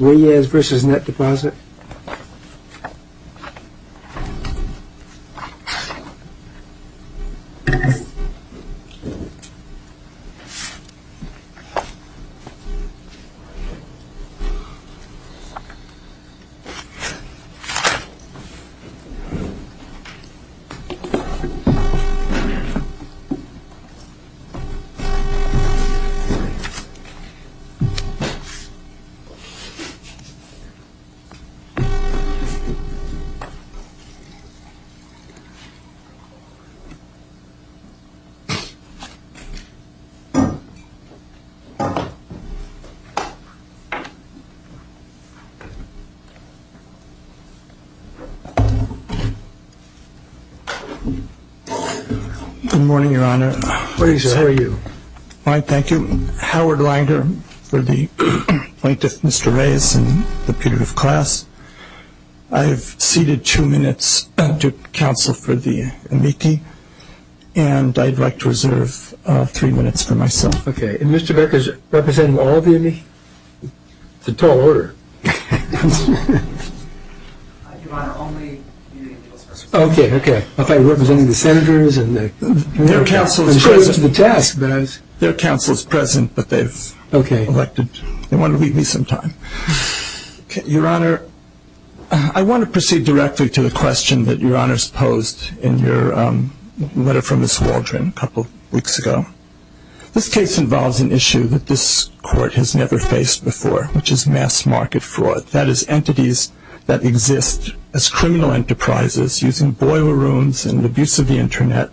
Reyes v. Netdeposit Good morning, Your Honor. Reyes, how are you? Fine, thank you. Howard Langer for the plaintiff, Mr. Reyes, and the punitive class. I have ceded two minutes to counsel for the amici, and I'd like to reserve three minutes for myself. Okay. And Mr. Beck is representing all of the amici? It's a tall order. Your Honor, only the amici. Okay, okay. I thought you were representing the senators and the counsel. Their counsel is present, but they've elected to leave me some time. Your Honor, I want to proceed directly to the question that Your Honor has posed in your letter from Ms. Waldron a couple of weeks ago. This case involves an issue that this court has never faced before, which is mass market fraud, that is, entities that exist as criminal enterprises using boiler rooms and abuse of the Internet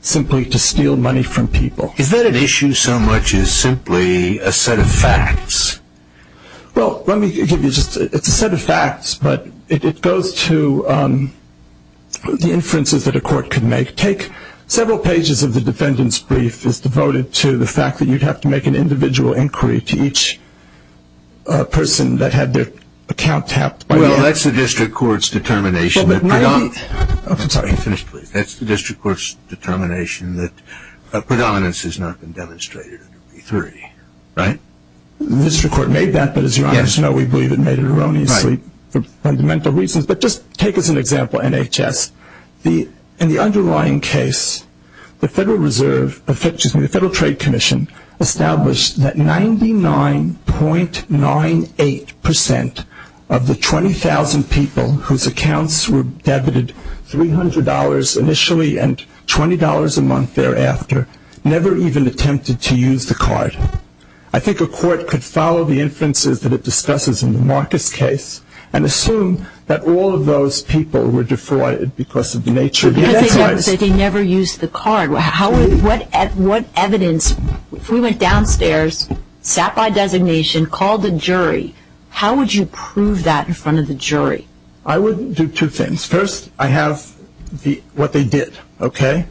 simply to steal money from people. Is that an issue so much as simply a set of facts? Well, let me give you just a set of facts, but it goes to the inferences that a court can make. Several pages of the defendant's brief is devoted to the fact that you'd have to make an individual inquiry to each person that had their account tapped. Well, that's the district court's determination that predominance has not been demonstrated under B3, right? The district court made that, but as Your Honor knows, we believe it made it erroneously for fundamental reasons. But just take as an example NHS. In the underlying case, the Federal Trade Commission established that 99.98% of the 20,000 people whose accounts were debited $300 initially and $20 a month thereafter never even attempted to use the card. I think a court could follow the inferences that it discusses in the Marcus case and assume that all of those people were defrauded because of the nature of the enterprise. Because they never used the card. What evidence, if we went downstairs, sat by designation, called the jury, how would you prove that in front of the jury? I would do two things. First, I have what they did, okay?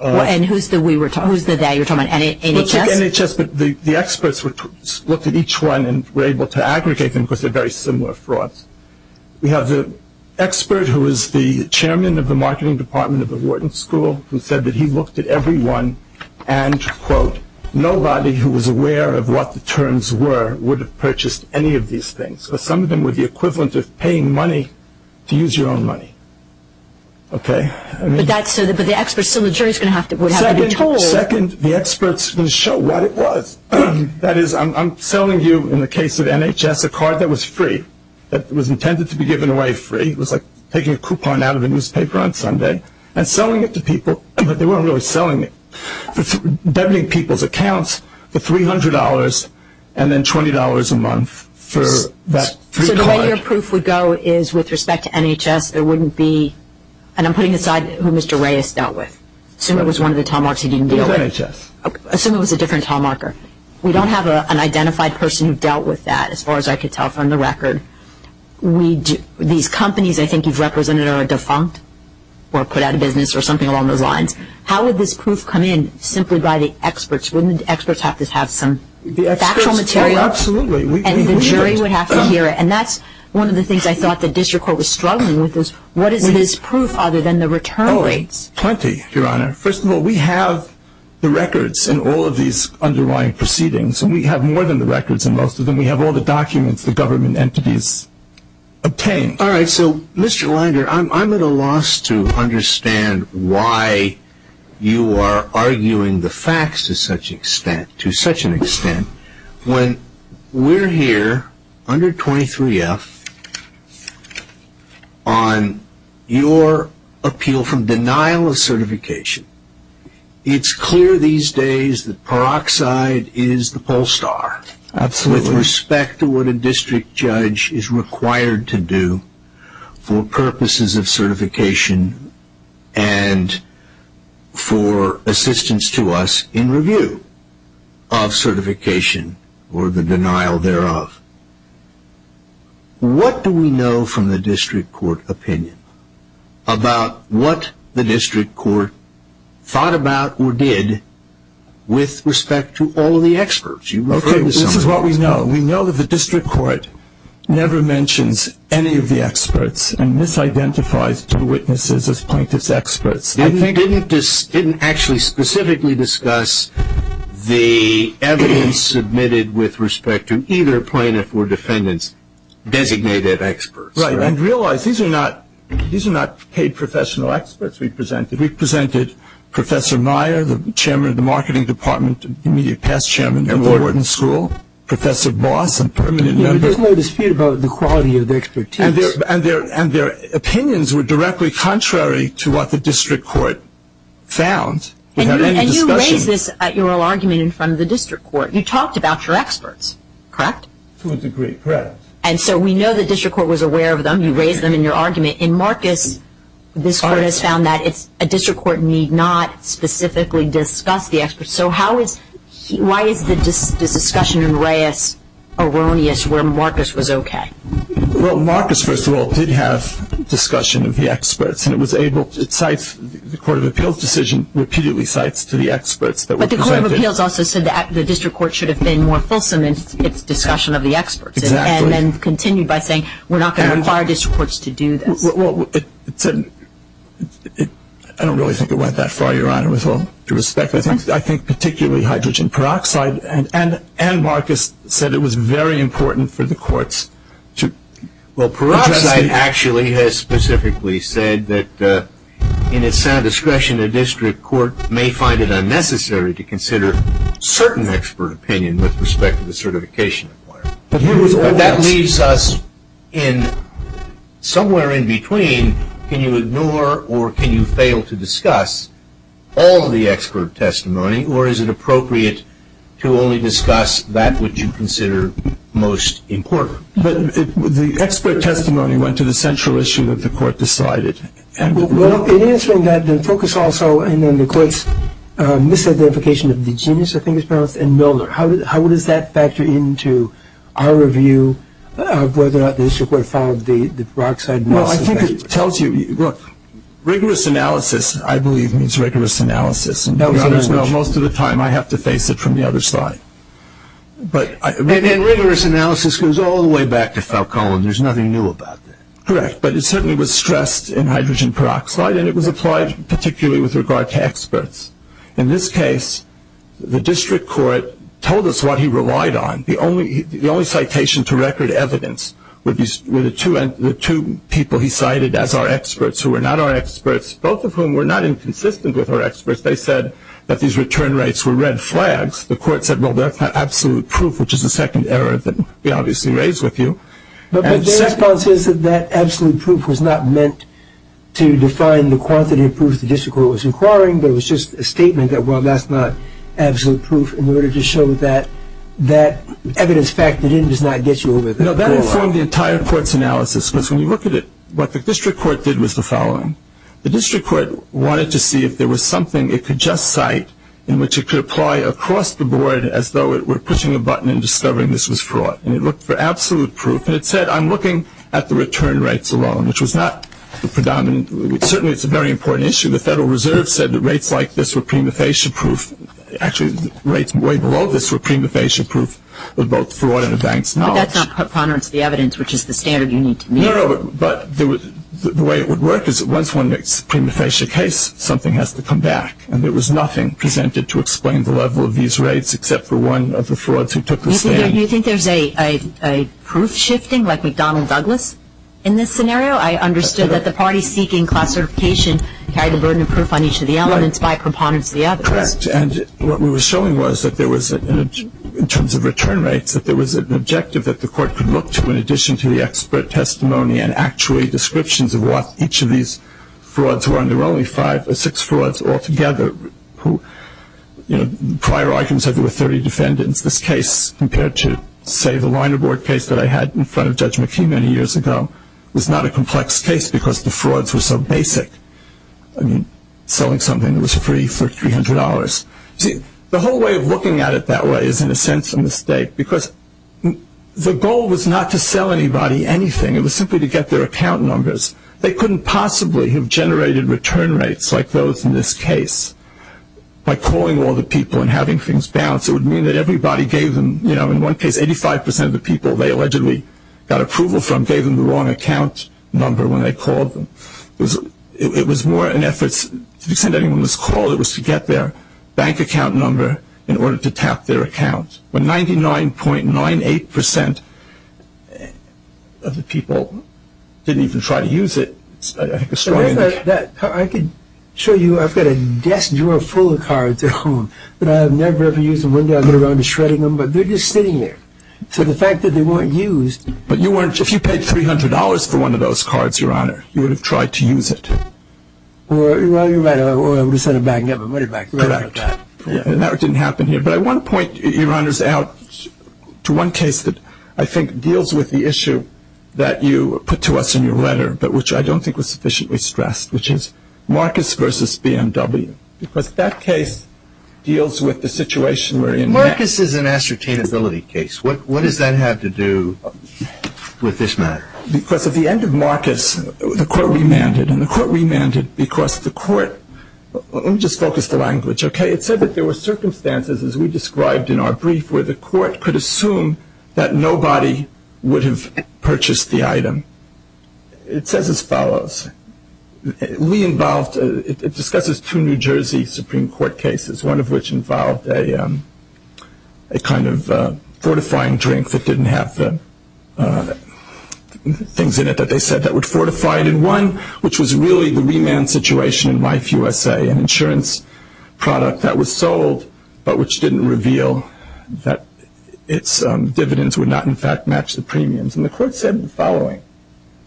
And who's the we were talking, who's the they? You're talking about NHS? We'll take NHS, but the experts looked at each one and were able to aggregate them because they're very similar frauds. We have the expert who is the chairman of the marketing department of the Wharton School who said that he looked at everyone and, quote, nobody who was aware of what the terms were would have purchased any of these things. Some of them were the equivalent of paying money to use your own money, okay? But that's so the experts, so the jury's going to have to, would have to be told. Second, the experts are going to show what it was. That is, I'm selling you, in the case of NHS, a card that was free, that was intended to be given away free. It was like taking a coupon out of a newspaper on Sunday and selling it to people, but they weren't really selling it, debiting people's accounts for $300 and then $20 a month for that free card. So the way your proof would go is, with respect to NHS, there wouldn't be, and I'm putting aside who Mr. Reyes dealt with. Assume it was one of the tall marks he didn't deal with. It was NHS. Assume it was a different tall marker. We don't have an identified person who dealt with that, as far as I could tell from the record. These companies I think you've represented are defunct or put out of business or something along those lines. How would this proof come in simply by the experts? Wouldn't the experts have to have some factual material? The experts, well, absolutely. And the jury would have to hear it. And that's one of the things I thought the district court was struggling with is, what is this proof other than the return rates? Plenty, Your Honor. First of all, we have the records in all of these underlying proceedings, and we have more than the records in most of them. We have all the documents the government entities obtained. All right. So, Mr. Linder, I'm at a loss to understand why you are arguing the facts to such an extent. When we're here under 23F on your appeal from denial of certification, it's clear these days that peroxide is the poll star. Absolutely. With respect to what a district judge is required to do for purposes of certification and for assistance to us in review of certification or the denial thereof, what do we know from the district court opinion about what the district court thought about or did with respect to all of the experts? Okay, this is what we know. We know that the district court never mentions any of the experts and misidentifies two witnesses as plaintiff's experts. They didn't actually specifically discuss the evidence submitted with respect to either plaintiff or defendant's designated experts. Right. And realize these are not paid professional experts we presented. We presented Professor Meyer, the Chairman of the Marketing Department, immediate past Chairman of the Wharton School, Professor Boss and permanent members. There's no dispute about the quality of the expertise. And their opinions were directly contrary to what the district court found. And you raised this at your argument in front of the district court. You talked about your experts, correct? To a degree, correct. And so we know the district court was aware of them. You raised them in your argument. In Marcus, this court has found that a district court need not specifically discuss the experts. So why is this discussion in Reyes erroneous where Marcus was okay? Well, Marcus, first of all, did have discussion of the experts. And it was able to cite the Court of Appeals decision repeatedly cites to the experts. But the Court of Appeals also said the district court should have been more fulsome in its discussion of the experts. Exactly. And then continued by saying we're not going to require district courts to do this. Well, I don't really think it went that far, Your Honor, with all due respect. I think particularly hydrogen peroxide and Marcus said it was very important for the courts to address it. Well, peroxide actually has specifically said that in its sound discretion, a district court may find it unnecessary to consider certain expert opinion with respect to the certification requirement. But that leaves us somewhere in between can you ignore or can you fail to discuss all of the expert testimony or is it appropriate to only discuss that which you consider most important? But the expert testimony went to the central issue that the court decided. Well, in answering that, the focus also and then the court's misidentification of the genius, I think it's pronounced, and Milder. How does that factor into our review of whether or not the district court followed the peroxide most effectively? Well, I think it tells you, look, rigorous analysis, I believe, means rigorous analysis. Most of the time, I have to face it from the other side. And rigorous analysis goes all the way back to Falcone. There's nothing new about that. Correct, but it certainly was stressed in hydrogen peroxide and it was applied particularly with regard to experts. In this case, the district court told us what he relied on. The only citation to record evidence were the two people he cited as our experts because they said that these return rates were red flags. The court said, well, that's not absolute proof, which is the second error that we obviously raised with you. But Falcone says that that absolute proof was not meant to define the quantity of proof the district court was inquiring, but it was just a statement that, well, that's not absolute proof in order to show that that evidence factored in does not get you over the wall. No, that informed the entire court's analysis The district court wanted to see if there was something it could just cite in which it could apply across the board as though it were pushing a button and discovering this was fraud, and it looked for absolute proof. And it said, I'm looking at the return rates alone, which was not the predominant. Certainly, it's a very important issue. The Federal Reserve said that rates like this were prima facie proof. Actually, rates way below this were prima facie proof of both fraud and advanced knowledge. But that's not ponderance of the evidence, which is the standard you need to meet. No, but the way it would work is that once one makes a prima facie case, something has to come back. And there was nothing presented to explain the level of these rates except for one of the frauds who took the stand. Do you think there's a proof shifting like McDonnell Douglas in this scenario? I understood that the party seeking class certification carried the burden of proof on each of the elements by preponderance of the others. Correct. And what we were showing was that there was, in terms of return rates, that there was an objective that the court could look to in addition to the expert testimony and actually descriptions of what each of these frauds were. And there were only five or six frauds altogether who, you know, prior arguments said there were 30 defendants. This case, compared to, say, the liner board case that I had in front of Judge McKee many years ago, was not a complex case because the frauds were so basic. I mean, selling something that was free for $300. The whole way of looking at it that way is, in a sense, a mistake because the goal was not to sell anybody anything. It was simply to get their account numbers. They couldn't possibly have generated return rates like those in this case by calling all the people and having things bounce. It would mean that everybody gave them, you know, in one case 85% of the people they allegedly got approval from gave them the wrong account number when they called them. It was more in efforts, to the extent anyone was called, it was to get their bank account number in order to tap their account. But 99.98% of the people didn't even try to use it. I think it's strange. I could show you. I've got a desk drawer full of cards at home that I have never ever used. One day I'll go around shredding them, but they're just sitting there. So the fact that they weren't used. But if you paid $300 for one of those cards, Your Honor, you would have tried to use it. Or I would have sent it back. Correct. That didn't happen here. But I want to point, Your Honors, out to one case that I think deals with the issue that you put to us in your letter but which I don't think was sufficiently stressed, which is Marcus v. BMW, because that case deals with the situation we're in now. Marcus is an ascertainability case. What does that have to do with this matter? Because at the end of Marcus, the court remanded, and the court remanded because the court – let me just focus the language, okay? It said that there were circumstances, as we described in our brief, where the court could assume that nobody would have purchased the item. It says as follows. We involved – it discusses two New Jersey Supreme Court cases, one of which involved a kind of fortifying drink that didn't have the things in it that they said that would fortify it, and one which was really the remand situation in Life U.S.A., an insurance product that was sold but which didn't reveal that its dividends would not, in fact, match the premiums. And the court said the following.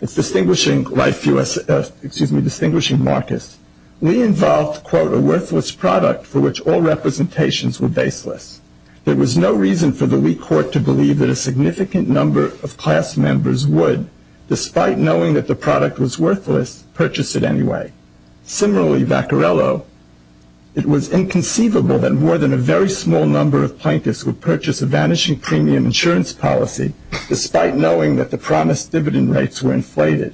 It's distinguishing Life U.S.A. – excuse me, distinguishing Marcus. We involved, quote, a worthless product for which all representations were baseless. There was no reason for the Lee court to believe that a significant number of class members would, despite knowing that the product was worthless, purchase it anyway. Similarly, Vaccarello, it was inconceivable that more than a very small number of plaintiffs would purchase a vanishing premium insurance policy, despite knowing that the promised dividend rates were inflated.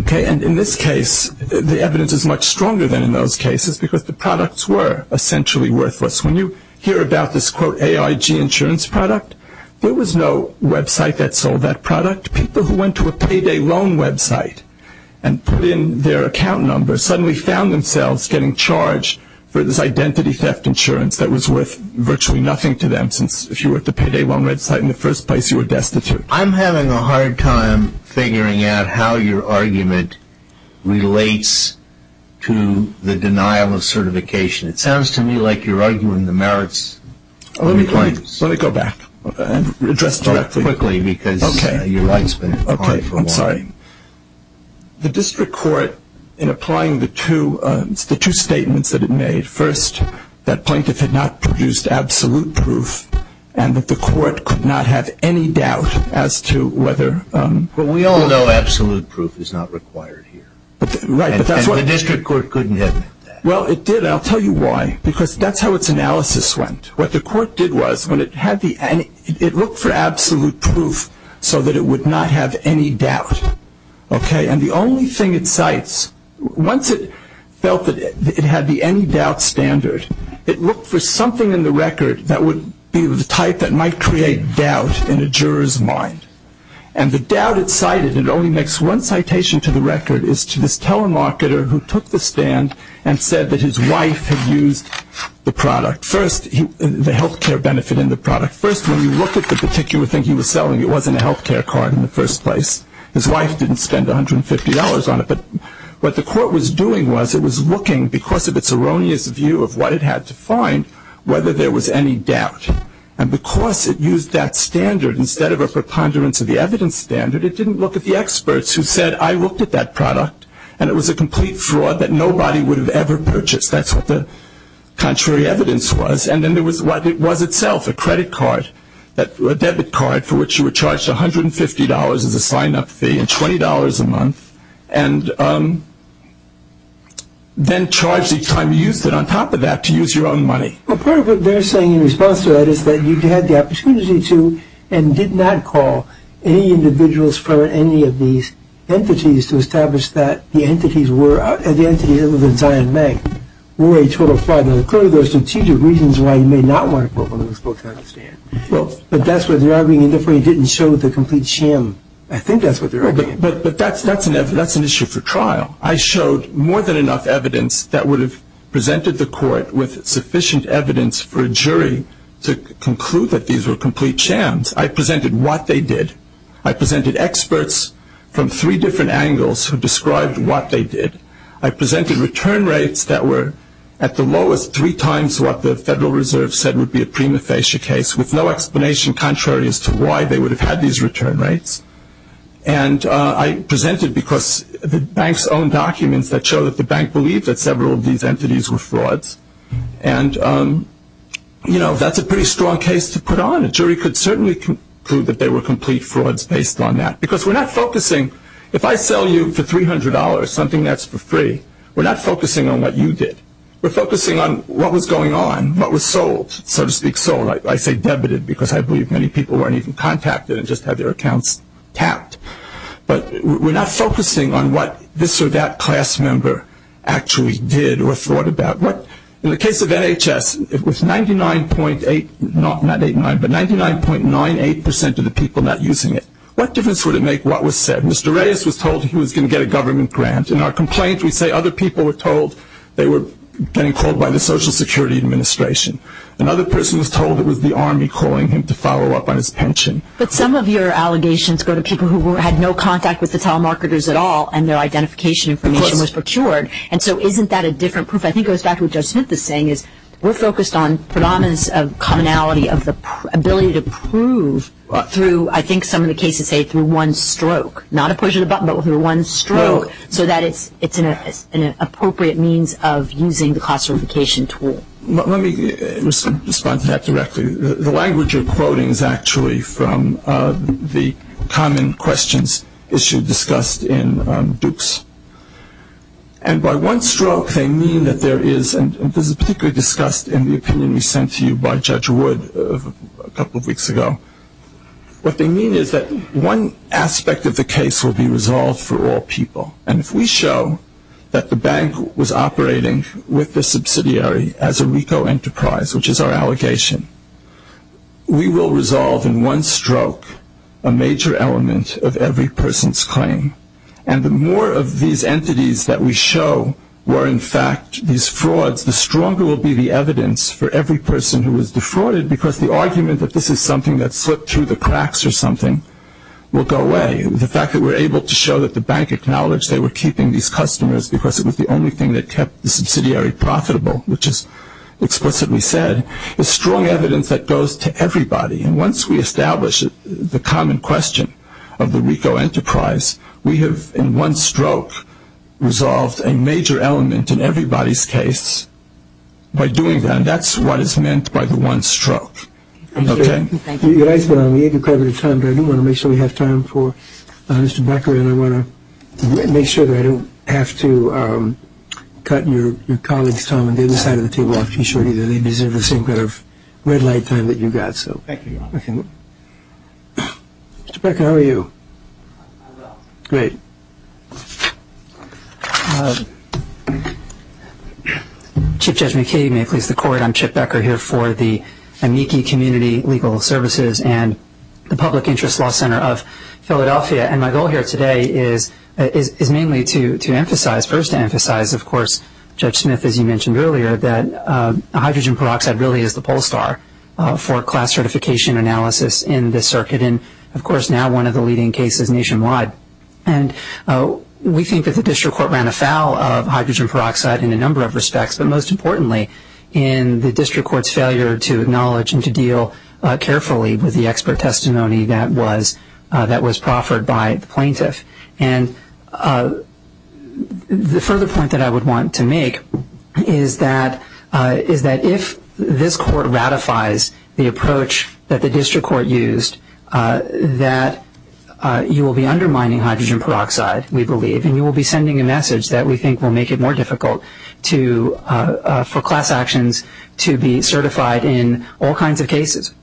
Okay, and in this case, the evidence is much stronger than in those cases because the products were essentially worthless. When you hear about this, quote, AIG insurance product, there was no website that sold that product. People who went to a payday loan website and put in their account number suddenly found themselves getting charged for this identity theft insurance that was worth virtually nothing to them, since if you were at the payday loan website in the first place, you were destitute. I'm having a hard time figuring out how your argument relates to the denial of certification. It sounds to me like you're arguing the merits of the claims. Let me go back and address that quickly because your light's been hard for a while. Okay, I'm sorry. The district court, in applying the two statements that it made, first, that plaintiff had not produced absolute proof and that the court could not have any doubt as to whether... But we all know absolute proof is not required here. Right, but that's what... And the district court couldn't have... Well, it did, and I'll tell you why. Because that's how its analysis went. What the court did was when it had the... It looked for absolute proof so that it would not have any doubt. Okay, and the only thing it cites... Once it felt that it had the any doubt standard, it looked for something in the record that would be the type that might create doubt in a juror's mind. And the doubt it cited, and it only makes one citation to the record, is to this telemarketer who took the stand and said that his wife had used the product. First, the health care benefit in the product. First, when you look at the particular thing he was selling, it wasn't a health care card in the first place. His wife didn't spend $150 on it. But what the court was doing was it was looking, because of its erroneous view of what it had to find, whether there was any doubt. And because it used that standard instead of a preponderance of the evidence standard, it didn't look at the experts who said, I looked at that product, and it was a complete fraud that nobody would have ever purchased. That's what the contrary evidence was. And then there was what it was itself, a credit card, a debit card for which you were charged $150 as a sign-up fee and $20 a month. And then charged each time you used it on top of that to use your own money. Well, part of what they're saying in response to that is that you had the opportunity to and did not call any individuals from any of these entities to establish that the entities other than Zion Bank were a total fraud. Now, clearly there are strategic reasons why you may not want to put one of those folks on the stand. But that's what they're arguing, and therefore you didn't show the complete sham. I think that's what they're arguing. But that's an issue for trial. I showed more than enough evidence that would have presented the court with sufficient evidence for a jury to conclude that these were complete shams. I presented what they did. I presented experts from three different angles who described what they did. I presented return rates that were at the lowest three times what the Federal Reserve said would be a prima facie case with no explanation contrary as to why they would have had these return rates. And I presented because the bank's own documents that show that the bank believed that several of these entities were frauds. And, you know, that's a pretty strong case to put on. A jury could certainly conclude that they were complete frauds based on that. Because we're not focusing, if I sell you for $300 something that's for free, we're not focusing on what you did. We're focusing on what was going on, what was sold, so to speak. I say sold, I say debited because I believe many people weren't even contacted and just had their accounts tapped. But we're not focusing on what this or that class member actually did or thought about. In the case of NHS, it was 99.98% of the people not using it. What difference would it make what was said? Mr. Reyes was told he was going to get a government grant. In our complaint we say other people were told they were being called by the Social Security Administration. Another person was told it was the Army calling him to follow up on his pension. But some of your allegations go to people who had no contact with the telemarketers at all and their identification information was procured. Of course. And so isn't that a different proof? I think it goes back to what Judge Smith is saying is we're focused on predominance of commonality of the ability to prove through, I think some of the cases say through one stroke, not a push of the button, but through one stroke, so that it's an appropriate means of using the cost certification tool. Let me respond to that directly. The language you're quoting is actually from the common questions issue discussed in Duke's. And by one stroke they mean that there is, and this is particularly discussed in the opinion we sent to you by Judge Wood a couple of weeks ago, what they mean is that one aspect of the case will be resolved for all people. And if we show that the bank was operating with the subsidiary as a RICO enterprise, which is our allegation, we will resolve in one stroke a major element of every person's claim. And the more of these entities that we show were in fact these frauds, the stronger will be the evidence for every person who was defrauded because the argument that this is something that slipped through the cracks or something will go away. The fact that we're able to show that the bank acknowledged they were keeping these customers because it was the only thing that kept the subsidiary profitable, which is explicitly said, is strong evidence that goes to everybody. And once we establish the common question of the RICO enterprise, we have in one stroke resolved a major element in everybody's case by doing that. And that's what is meant by the one stroke. Thank you. Your time, but I do want to make sure we have time for Mr. Becker, and I want to make sure that I don't have to cut your colleagues' time on the other side of the table off too short either. They deserve the same kind of red light time that you got. Thank you, Your Honor. Mr. Becker, how are you? I'm well. Great. Chief Judge McKay, may it please the Court, I'm Chip Becker here for the Amici Community Legal Services and the Public Interest Law Center of Philadelphia. And my goal here today is mainly to emphasize, first to emphasize, of course, Judge Smith, as you mentioned earlier, that hydrogen peroxide really is the pole star for class certification analysis in this circuit and, of course, now one of the leading cases nationwide. And we think that the district court ran afoul of hydrogen peroxide in a number of respects, but most importantly in the district court's failure to acknowledge and to deal carefully with the expert testimony that was proffered by the plaintiff. And the further point that I would want to make is that if this court ratifies the approach that the district court used, that you will be undermining hydrogen peroxide, we believe, and you will be sending a message that we think will make it more difficult for class actions to be certified in all kinds of cases,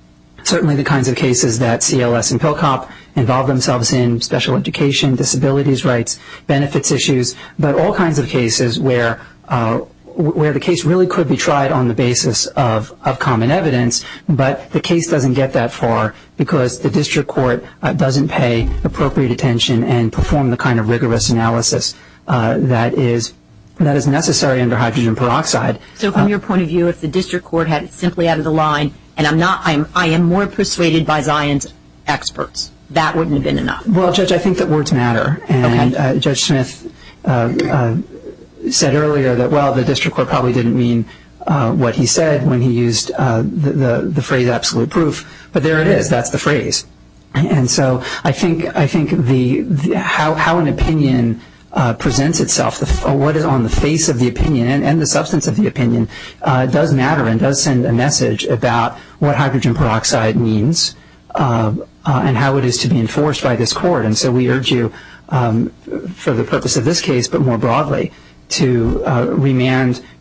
certainly the kinds of cases that CLS and Pell Cop involve themselves in, special education, disabilities rights, benefits issues, but all kinds of cases where the case really could be tried on the basis of common evidence, but the case doesn't get that far because the district court doesn't pay appropriate attention and perform the kind of rigorous analysis that is necessary under hydrogen peroxide. So from your point of view, if the district court had simply added a line, and I am more persuaded by Zion's experts, that wouldn't have been enough? Well, Judge, I think that words matter. And Judge Smith said earlier that, well, the district court probably didn't mean what he said when he used the phrase absolute proof. But there it is. That's the phrase. And so I think how an opinion presents itself, what is on the face of the opinion and the substance of the opinion does matter and does send a message about what hydrogen peroxide means and how it is to be enforced by this court. And so we urge you, for the purpose of this case but more broadly, to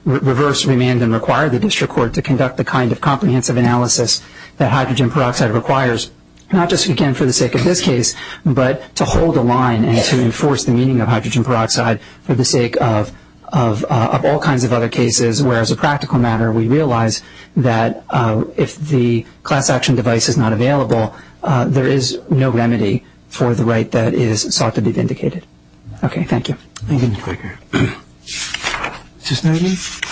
reverse, remand, and require the district court to conduct the kind of comprehensive analysis that hydrogen peroxide requires, not just, again, for the sake of this case, but to hold a line and to enforce the meaning of hydrogen peroxide for the sake of all kinds of other cases where, as a practical matter, we realize that if the class action device is not available, there is no remedy for the right that is sought to be vindicated. Okay. Thank you. Thank you, Mr. Becker. Mr. Snyderman.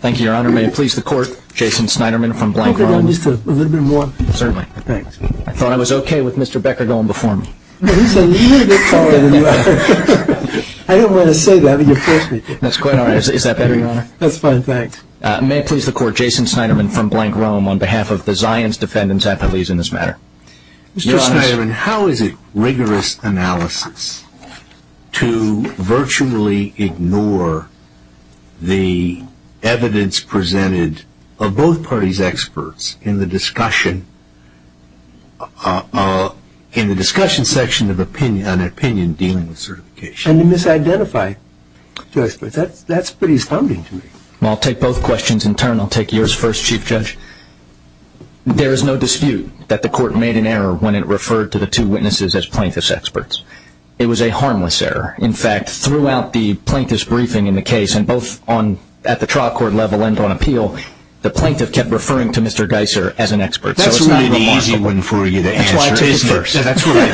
Thank you, Your Honor. May it please the court, Jason Snyderman from Blank Run. Can I go down just a little bit more? Certainly. Thanks. I thought I was okay with Mr. Becker going before me. He's a little bit taller than you are. I don't want to say that, but you forced me. That's quite all right. Is that better, Your Honor? That's fine. Thanks. May it please the court, Jason Snyderman from Blank Rome, on behalf of the Zions Defendant's Appellees in this matter. Mr. Snyderman, how is it rigorous analysis to virtually ignore the evidence presented of both parties' experts in the discussion section of an opinion dealing with certification? And to misidentify two experts. That's pretty astounding to me. I'll take both questions in turn. I'll take yours first, Chief Judge. There is no dispute that the court made an error when it referred to the two witnesses as plaintiff's experts. It was a harmless error. In fact, throughout the plaintiff's briefing in the case, and both at the trial court level and on appeal, the plaintiff kept referring to Mr. Geisser as an expert. That's a really easy one for you to answer, isn't it? That's what I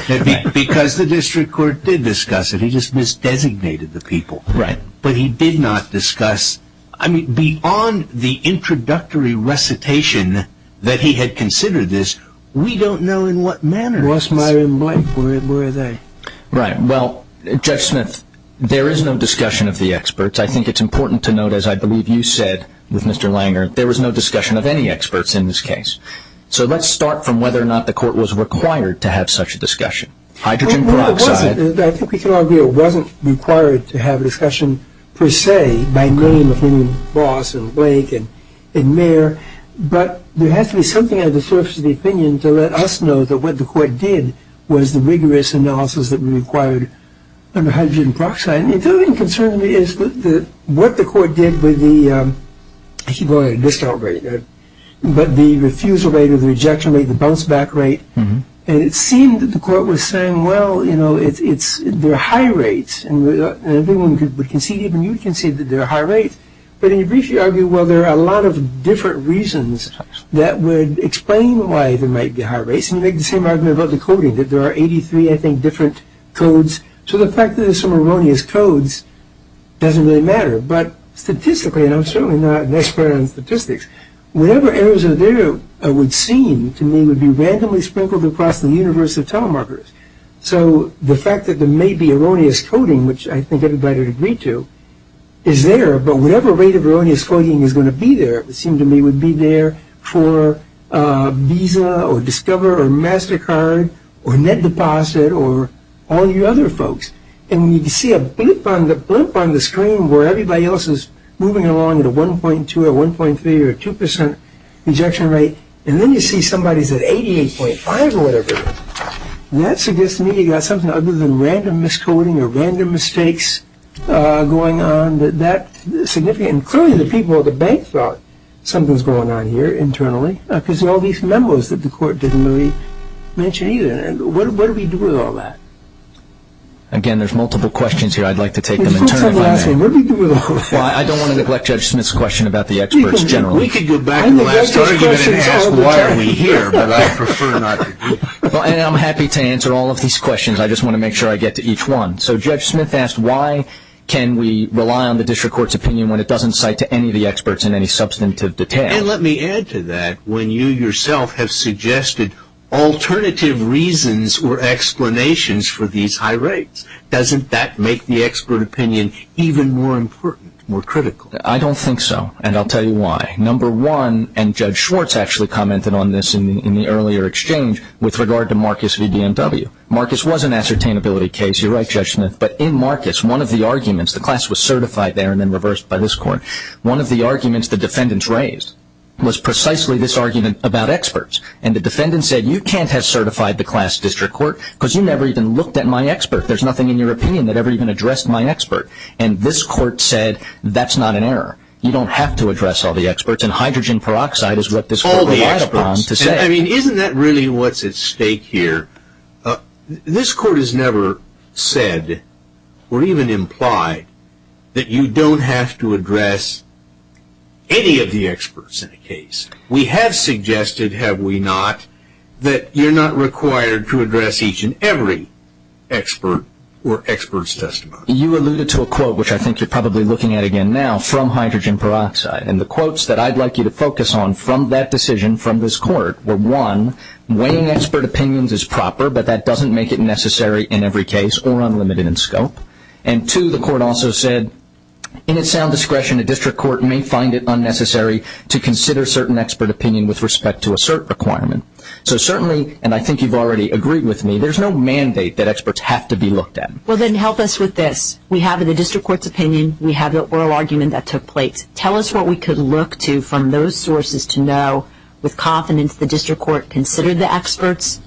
thought. Because the district court did discuss it. He just misdesignated the people. Right. But he did not discuss, I mean, beyond the introductory recitation that he had considered this, we don't know in what manner it was. Where were they? Right. Well, Judge Smith, there is no discussion of the experts. I think it's important to note, as I believe you said with Mr. Langer, there was no discussion of any experts in this case. So let's start from whether or not the court was required to have such a discussion. Hydrogen peroxide. Well, there wasn't. I think we can all agree it wasn't required to have a discussion, per se, by name, between Boss and Blake and Mayer. But there has to be something on the surface of the opinion to let us know that what the court did was the rigorous analysis that we required under hydrogen peroxide. And the other thing that concerns me is what the court did with the, I keep going at a discount rate, but the refusal rate or the rejection rate, the bounce-back rate. And it seemed that the court was saying, well, you know, there are high rates, and everyone would concede, even you would concede that there are high rates. But in your brief, you argue, well, there are a lot of different reasons that would explain why there might be high rates. And you make the same argument about the coding, that there are 83, I think, different codes. So the fact that there are some erroneous codes doesn't really matter. But statistically, and I'm certainly not an expert on statistics, whatever errors are there, it would seem to me, would be randomly sprinkled across the universe of telemarketers. So the fact that there may be erroneous coding, which I think everybody would agree to, is there. But whatever rate of erroneous coding is going to be there, it seemed to me, would be there for Visa or Discover or MasterCard or Net Deposit or all you other folks. And you see a blip on the screen where everybody else is moving along at a 1.2 or a 1.3 or a 2% rejection rate, and then you see somebody is at 88.5 or whatever. That suggests to me you've got something other than random miscoding or random mistakes going on that's significant. Clearly the people at the bank thought something was going on here internally, because of all these memos that the court didn't really mention either. What do we do with all that? Again, there's multiple questions here. I'd like to take them internally. I don't want to neglect Judge Smith's question about the experts generally. We could go back to the last argument and ask why are we here, but I prefer not to do that. And I'm happy to answer all of these questions. I just want to make sure I get to each one. So Judge Smith asked why can we rely on the district court's opinion when it doesn't cite to any of the experts in any substantive detail. And let me add to that. When you yourself have suggested alternative reasons or explanations for these high rates, doesn't that make the expert opinion even more important, more critical? I don't think so, and I'll tell you why. Number one, and Judge Schwartz actually commented on this in the earlier exchange, with regard to Marcus v. BMW. Marcus was an ascertainability case. You're right, Judge Smith. But in Marcus, one of the arguments, the class was certified there and then reversed by this court. One of the arguments the defendants raised was precisely this argument about experts. And the defendant said you can't have certified the class district court because you never even looked at my expert. There's nothing in your opinion that ever even addressed my expert. And this court said that's not an error. You don't have to address all the experts. And hydrogen peroxide is what this court relies upon to say. Isn't that really what's at stake here? This court has never said or even implied that you don't have to address any of the experts in a case. We have suggested, have we not, that you're not required to address each and every expert or expert's testimony. You alluded to a quote, which I think you're probably looking at again now, from hydrogen peroxide. And the quotes that I'd like you to focus on from that decision from this court were, one, weighing expert opinions is proper, but that doesn't make it necessary in every case or unlimited in scope. And two, the court also said in its sound discretion, a district court may find it unnecessary to consider certain expert opinion with respect to a cert requirement. So certainly, and I think you've already agreed with me, there's no mandate that experts have to be looked at. Well, then help us with this. We have the district court's opinion. We have the oral argument that took place. Tell us what we could look to from those sources to know with confidence the district court considered the experts,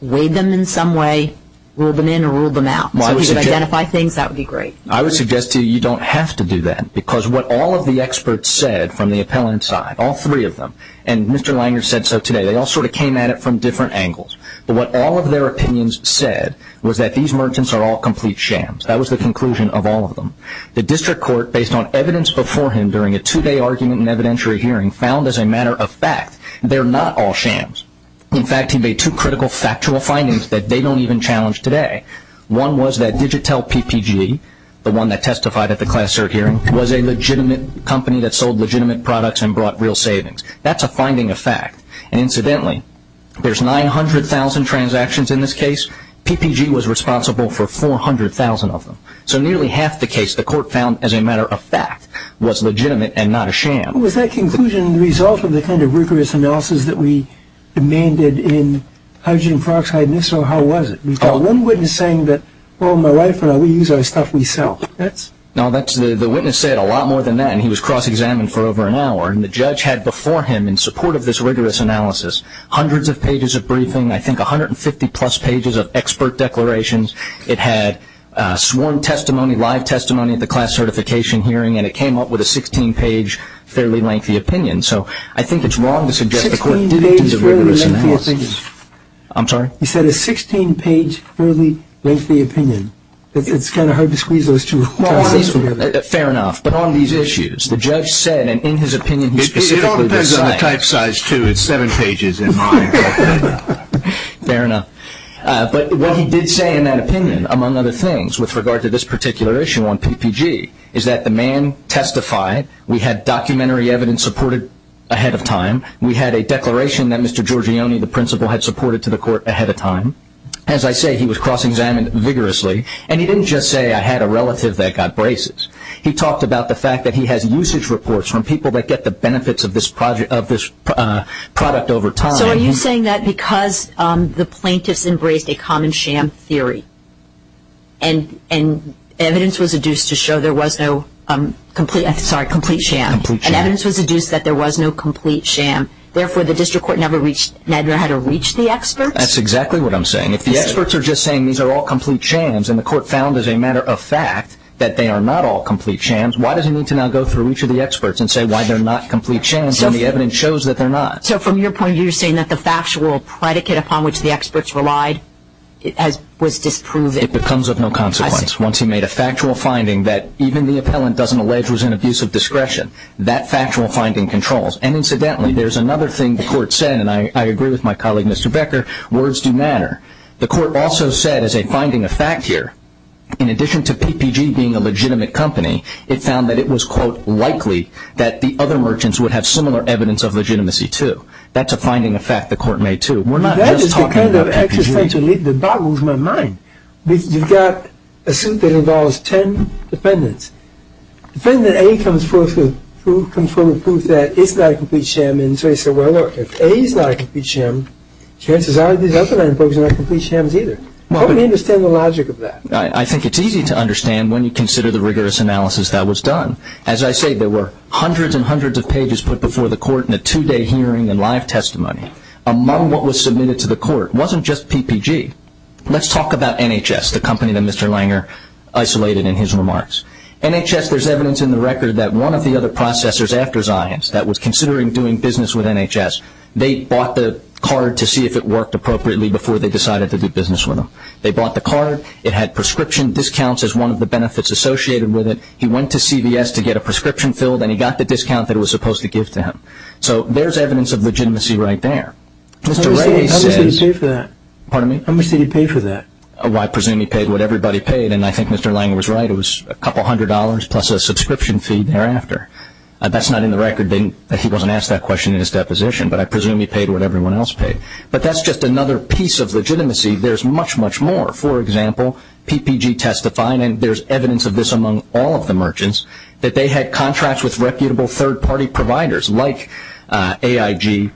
weighed them in some way, ruled them in or ruled them out. So we could identify things. That would be great. I would suggest to you you don't have to do that because what all of the experts said from the appellant side, all three of them, and Mr. Langer said so today, they all sort of came at it from different angles. But what all of their opinions said was that these merchants are all complete shams. That was the conclusion of all of them. The district court, based on evidence before him during a two-day argument and evidentiary hearing, found as a matter of fact they're not all shams. In fact, he made two critical factual findings that they don't even challenge today. One was that Digitel PPG, the one that testified at the class cert hearing, was a legitimate company that sold legitimate products and brought real savings. That's a finding of fact. And incidentally, there's 900,000 transactions in this case. PPG was responsible for 400,000 of them. So nearly half the case the court found as a matter of fact was legitimate and not a sham. Was that conclusion the result of the kind of rigorous analysis that we demanded in hydrogen peroxide? And so how was it? We've got one witness saying that, well, my wife and I, we use our stuff we sell. No, the witness said a lot more than that, and he was cross-examined for over an hour. And the judge had before him, in support of this rigorous analysis, hundreds of pages of briefing, I think 150-plus pages of expert declarations. It had sworn testimony, live testimony at the class certification hearing, and it came up with a 16-page fairly lengthy opinion. So I think it's wrong to suggest the court did a rigorous analysis. I'm sorry? He said a 16-page fairly lengthy opinion. It's kind of hard to squeeze those two together. Fair enough. But on these issues, the judge said, and in his opinion, he specifically designed. It all depends on the type size, too. It's seven pages in mine. Fair enough. But what he did say in that opinion, among other things, with regard to this particular issue on PPG, is that the man testified. We had documentary evidence supported ahead of time. We had a declaration that Mr. Giorgione, the principal, had supported to the court ahead of time. As I say, he was cross-examined vigorously. And he didn't just say, I had a relative that got braces. He talked about the fact that he has usage reports from people that get the benefits of this product over time. So are you saying that because the plaintiffs embraced a common sham theory and evidence was adduced to show there was no complete sham, and evidence was adduced that there was no complete sham, therefore the district court never had to reach the experts? That's exactly what I'm saying. If the experts are just saying these are all complete shams, and the court found as a matter of fact that they are not all complete shams, why does it need to now go through each of the experts and say why they're not complete shams when the evidence shows that they're not? So from your point of view, you're saying that the factual predicate upon which the experts relied was disproven? It becomes of no consequence. Once he made a factual finding that even the appellant doesn't allege was an abuse of discretion, that factual finding controls. And incidentally, there's another thing the court said, and I agree with my colleague Mr. Becker, words do matter. The court also said, as a finding of fact here, in addition to PPG being a legitimate company, it found that it was, quote, likely that the other merchants would have similar evidence of legitimacy, too. That's a finding of fact the court made, too. We're not just talking about PPG. That is the kind of existential lead that boggles my mind. You've got a suit that involves ten defendants. Defendant A comes forth with proof that it's not a complete sham, and so you say, well, look, if A is not a complete sham, chances are these other nine folks are not complete shams either. How many understand the logic of that? I think it's easy to understand when you consider the rigorous analysis that was done. As I say, there were hundreds and hundreds of pages put before the court in a two-day hearing and live testimony. Among what was submitted to the court wasn't just PPG. Let's talk about NHS, the company that Mr. Langer isolated in his remarks. NHS, there's evidence in the record that one of the other processors after Zions that was considering doing business with NHS, they bought the card to see if it worked appropriately before they decided to do business with them. They bought the card. It had prescription discounts as one of the benefits associated with it. He went to CVS to get a prescription filled, and he got the discount that it was supposed to give to him. So there's evidence of legitimacy right there. How much did he pay for that? I presume he paid what everybody paid, and I think Mr. Langer was right. It was a couple hundred dollars plus a subscription fee thereafter. That's not in the record. He wasn't asked that question in his deposition, but I presume he paid what everyone else paid. But that's just another piece of legitimacy. There's much, much more. For example, PPG testifying, and there's evidence of this among all of the merchants, that they had contracts with reputable third-party providers like AIG,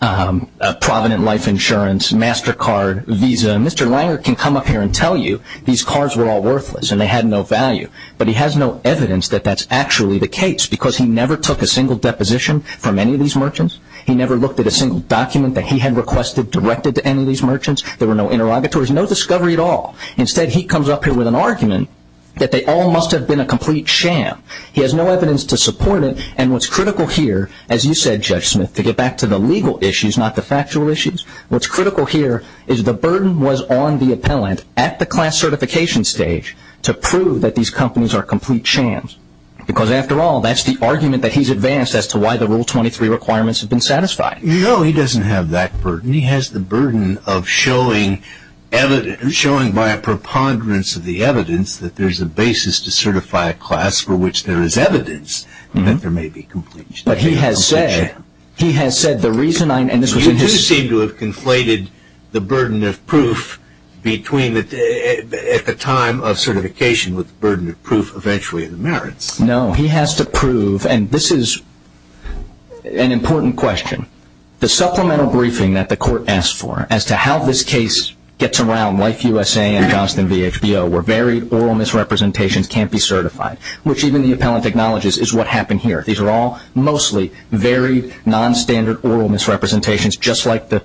Provident Life Insurance, MasterCard, Visa. Mr. Langer can come up here and tell you these cards were all worthless and they had no value, but he has no evidence that that's actually the case because he never took a single deposition from any of these merchants. He never looked at a single document that he had requested directed to any of these merchants. There were no interrogatories, no discovery at all. Instead, he comes up here with an argument that they all must have been a complete sham. He has no evidence to support it, and what's critical here, as you said, Judge Smith, to get back to the legal issues, not the factual issues, what's critical here is the burden was on the appellant at the class certification stage to prove that these companies are complete shams because, after all, that's the argument that he's advanced as to why the Rule 23 requirements have been satisfied. No, he doesn't have that burden. He has the burden of showing by a preponderance of the evidence that there's a basis to certify a class for which there is evidence that there may be complete sham. But he has said, he has said the reason I, and this was in his You do seem to have conflated the burden of proof between, at the time of certification, with the burden of proof eventually of the merits. No, he has to prove, and this is an important question, the supplemental briefing that the court asked for as to how this case gets around Life USA and Johnston v. HBO where varied oral misrepresentations can't be certified, which even the appellant acknowledges is what happened here. These are all mostly varied, nonstandard oral misrepresentations, just like the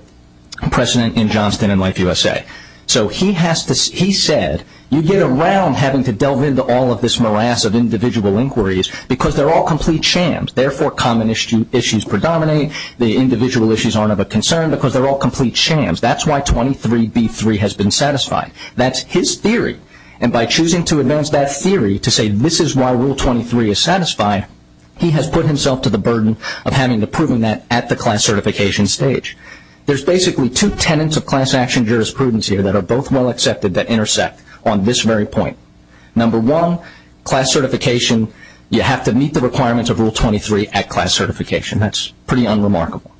precedent in Johnston and Life USA. So he has to, he said, you get around having to delve into all of this morass of individual inquiries because they're all complete shams, therefore common issues predominate, the individual issues aren't of a concern because they're all complete shams. That's why 23b3 has been satisfied. That's his theory, and by choosing to advance that theory to say this is why Rule 23 is satisfied, he has put himself to the burden of having to prove that at the class certification stage. There's basically two tenets of class action jurisprudence here that are both well accepted that intersect on this very point. Number one, class certification, you have to meet the requirements of Rule 23 at class certification. That's pretty unremarkable.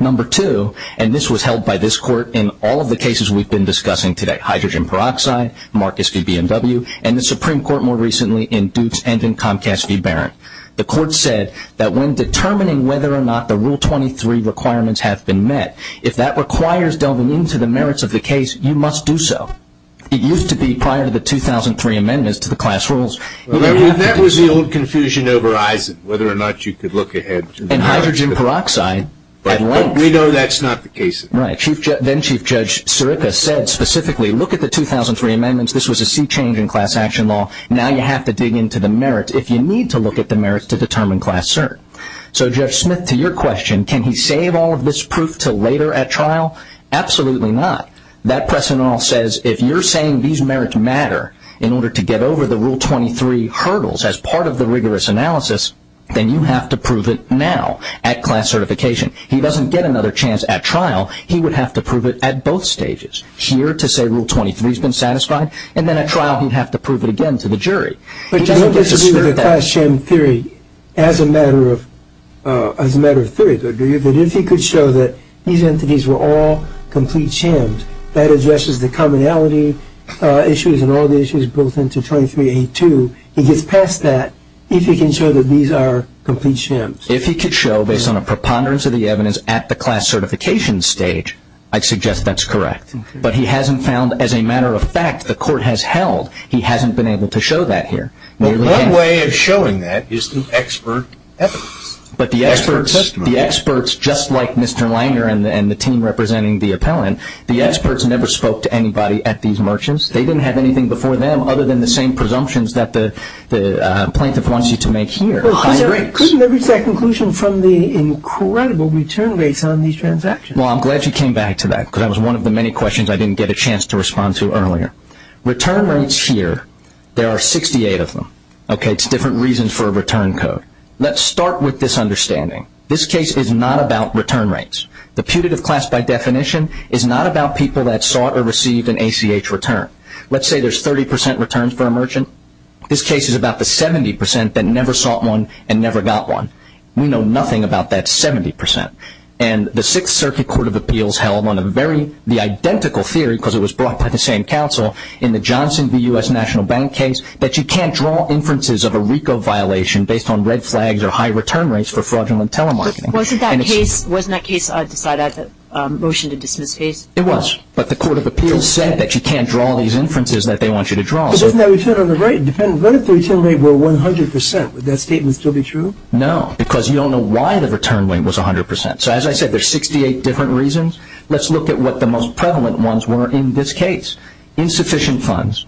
Number two, and this was held by this court in all of the cases we've been discussing today, hydrogen peroxide, Marcus v. BMW, and the Supreme Court more recently in Dukes and in Comcast v. Barron. The court said that when determining whether or not the Rule 23 requirements have been met, if that requires delving into the merits of the case, you must do so. It used to be prior to the 2003 amendments to the class rules. That was the old confusion over Eisen, whether or not you could look ahead. And hydrogen peroxide at length. We know that's not the case. Right. Then-Chief Judge Sirica said specifically, look at the 2003 amendments. This was a sea change in class action law. Now you have to dig into the merits if you need to look at the merits to determine class cert. So, Judge Smith, to your question, can he save all of this proof until later at trial? Absolutely not. That precedent all says if you're saying these merits matter in order to get over the Rule 23 hurdles as part of the rigorous analysis, then you have to prove it now at class certification. He doesn't get another chance at trial. He would have to prove it at both stages. Here to say Rule 23's been satisfied, and then at trial he'd have to prove it again to the jury. But Judge, I disagree with the class sham theory as a matter of theory. But if he could show that these entities were all complete shams, that addresses the commonality issues and all the issues built into 23A2, he gets past that if he can show that these are complete shams. If he could show, based on a preponderance of the evidence at the class certification stage, I'd suggest that's correct. But he hasn't found, as a matter of fact, the court has held he hasn't been able to show that here. One way of showing that is the expert evidence. But the experts, just like Mr. Langer and the team representing the appellant, the experts never spoke to anybody at these merchants. They didn't have anything before them other than the same presumptions that the plaintiff wants you to make here. Couldn't they reach that conclusion from the incredible return rates on these transactions? Well, I'm glad you came back to that because that was one of the many questions I didn't get a chance to respond to earlier. Return rates here, there are 68 of them. It's different reasons for a return code. Let's start with this understanding. This case is not about return rates. The putative class, by definition, is not about people that sought or received an ACH return. Let's say there's 30% returns for a merchant. This case is about the 70% that never sought one and never got one. We know nothing about that 70%. And the Sixth Circuit Court of Appeals held on the identical theory, because it was brought by the same counsel in the Johnson v. U.S. National Bank case, that you can't draw inferences of a RICO violation based on red flags or high return rates for fraudulent telemarketing. Wasn't that case decided at the motion to dismiss case? It was. But the Court of Appeals said that you can't draw these inferences that they want you to draw. But isn't that return on the right? What if the return rate were 100%? Would that statement still be true? No, because you don't know why the return rate was 100%. So as I said, there are 68 different reasons. Let's look at what the most prevalent ones were in this case. Insufficient funds.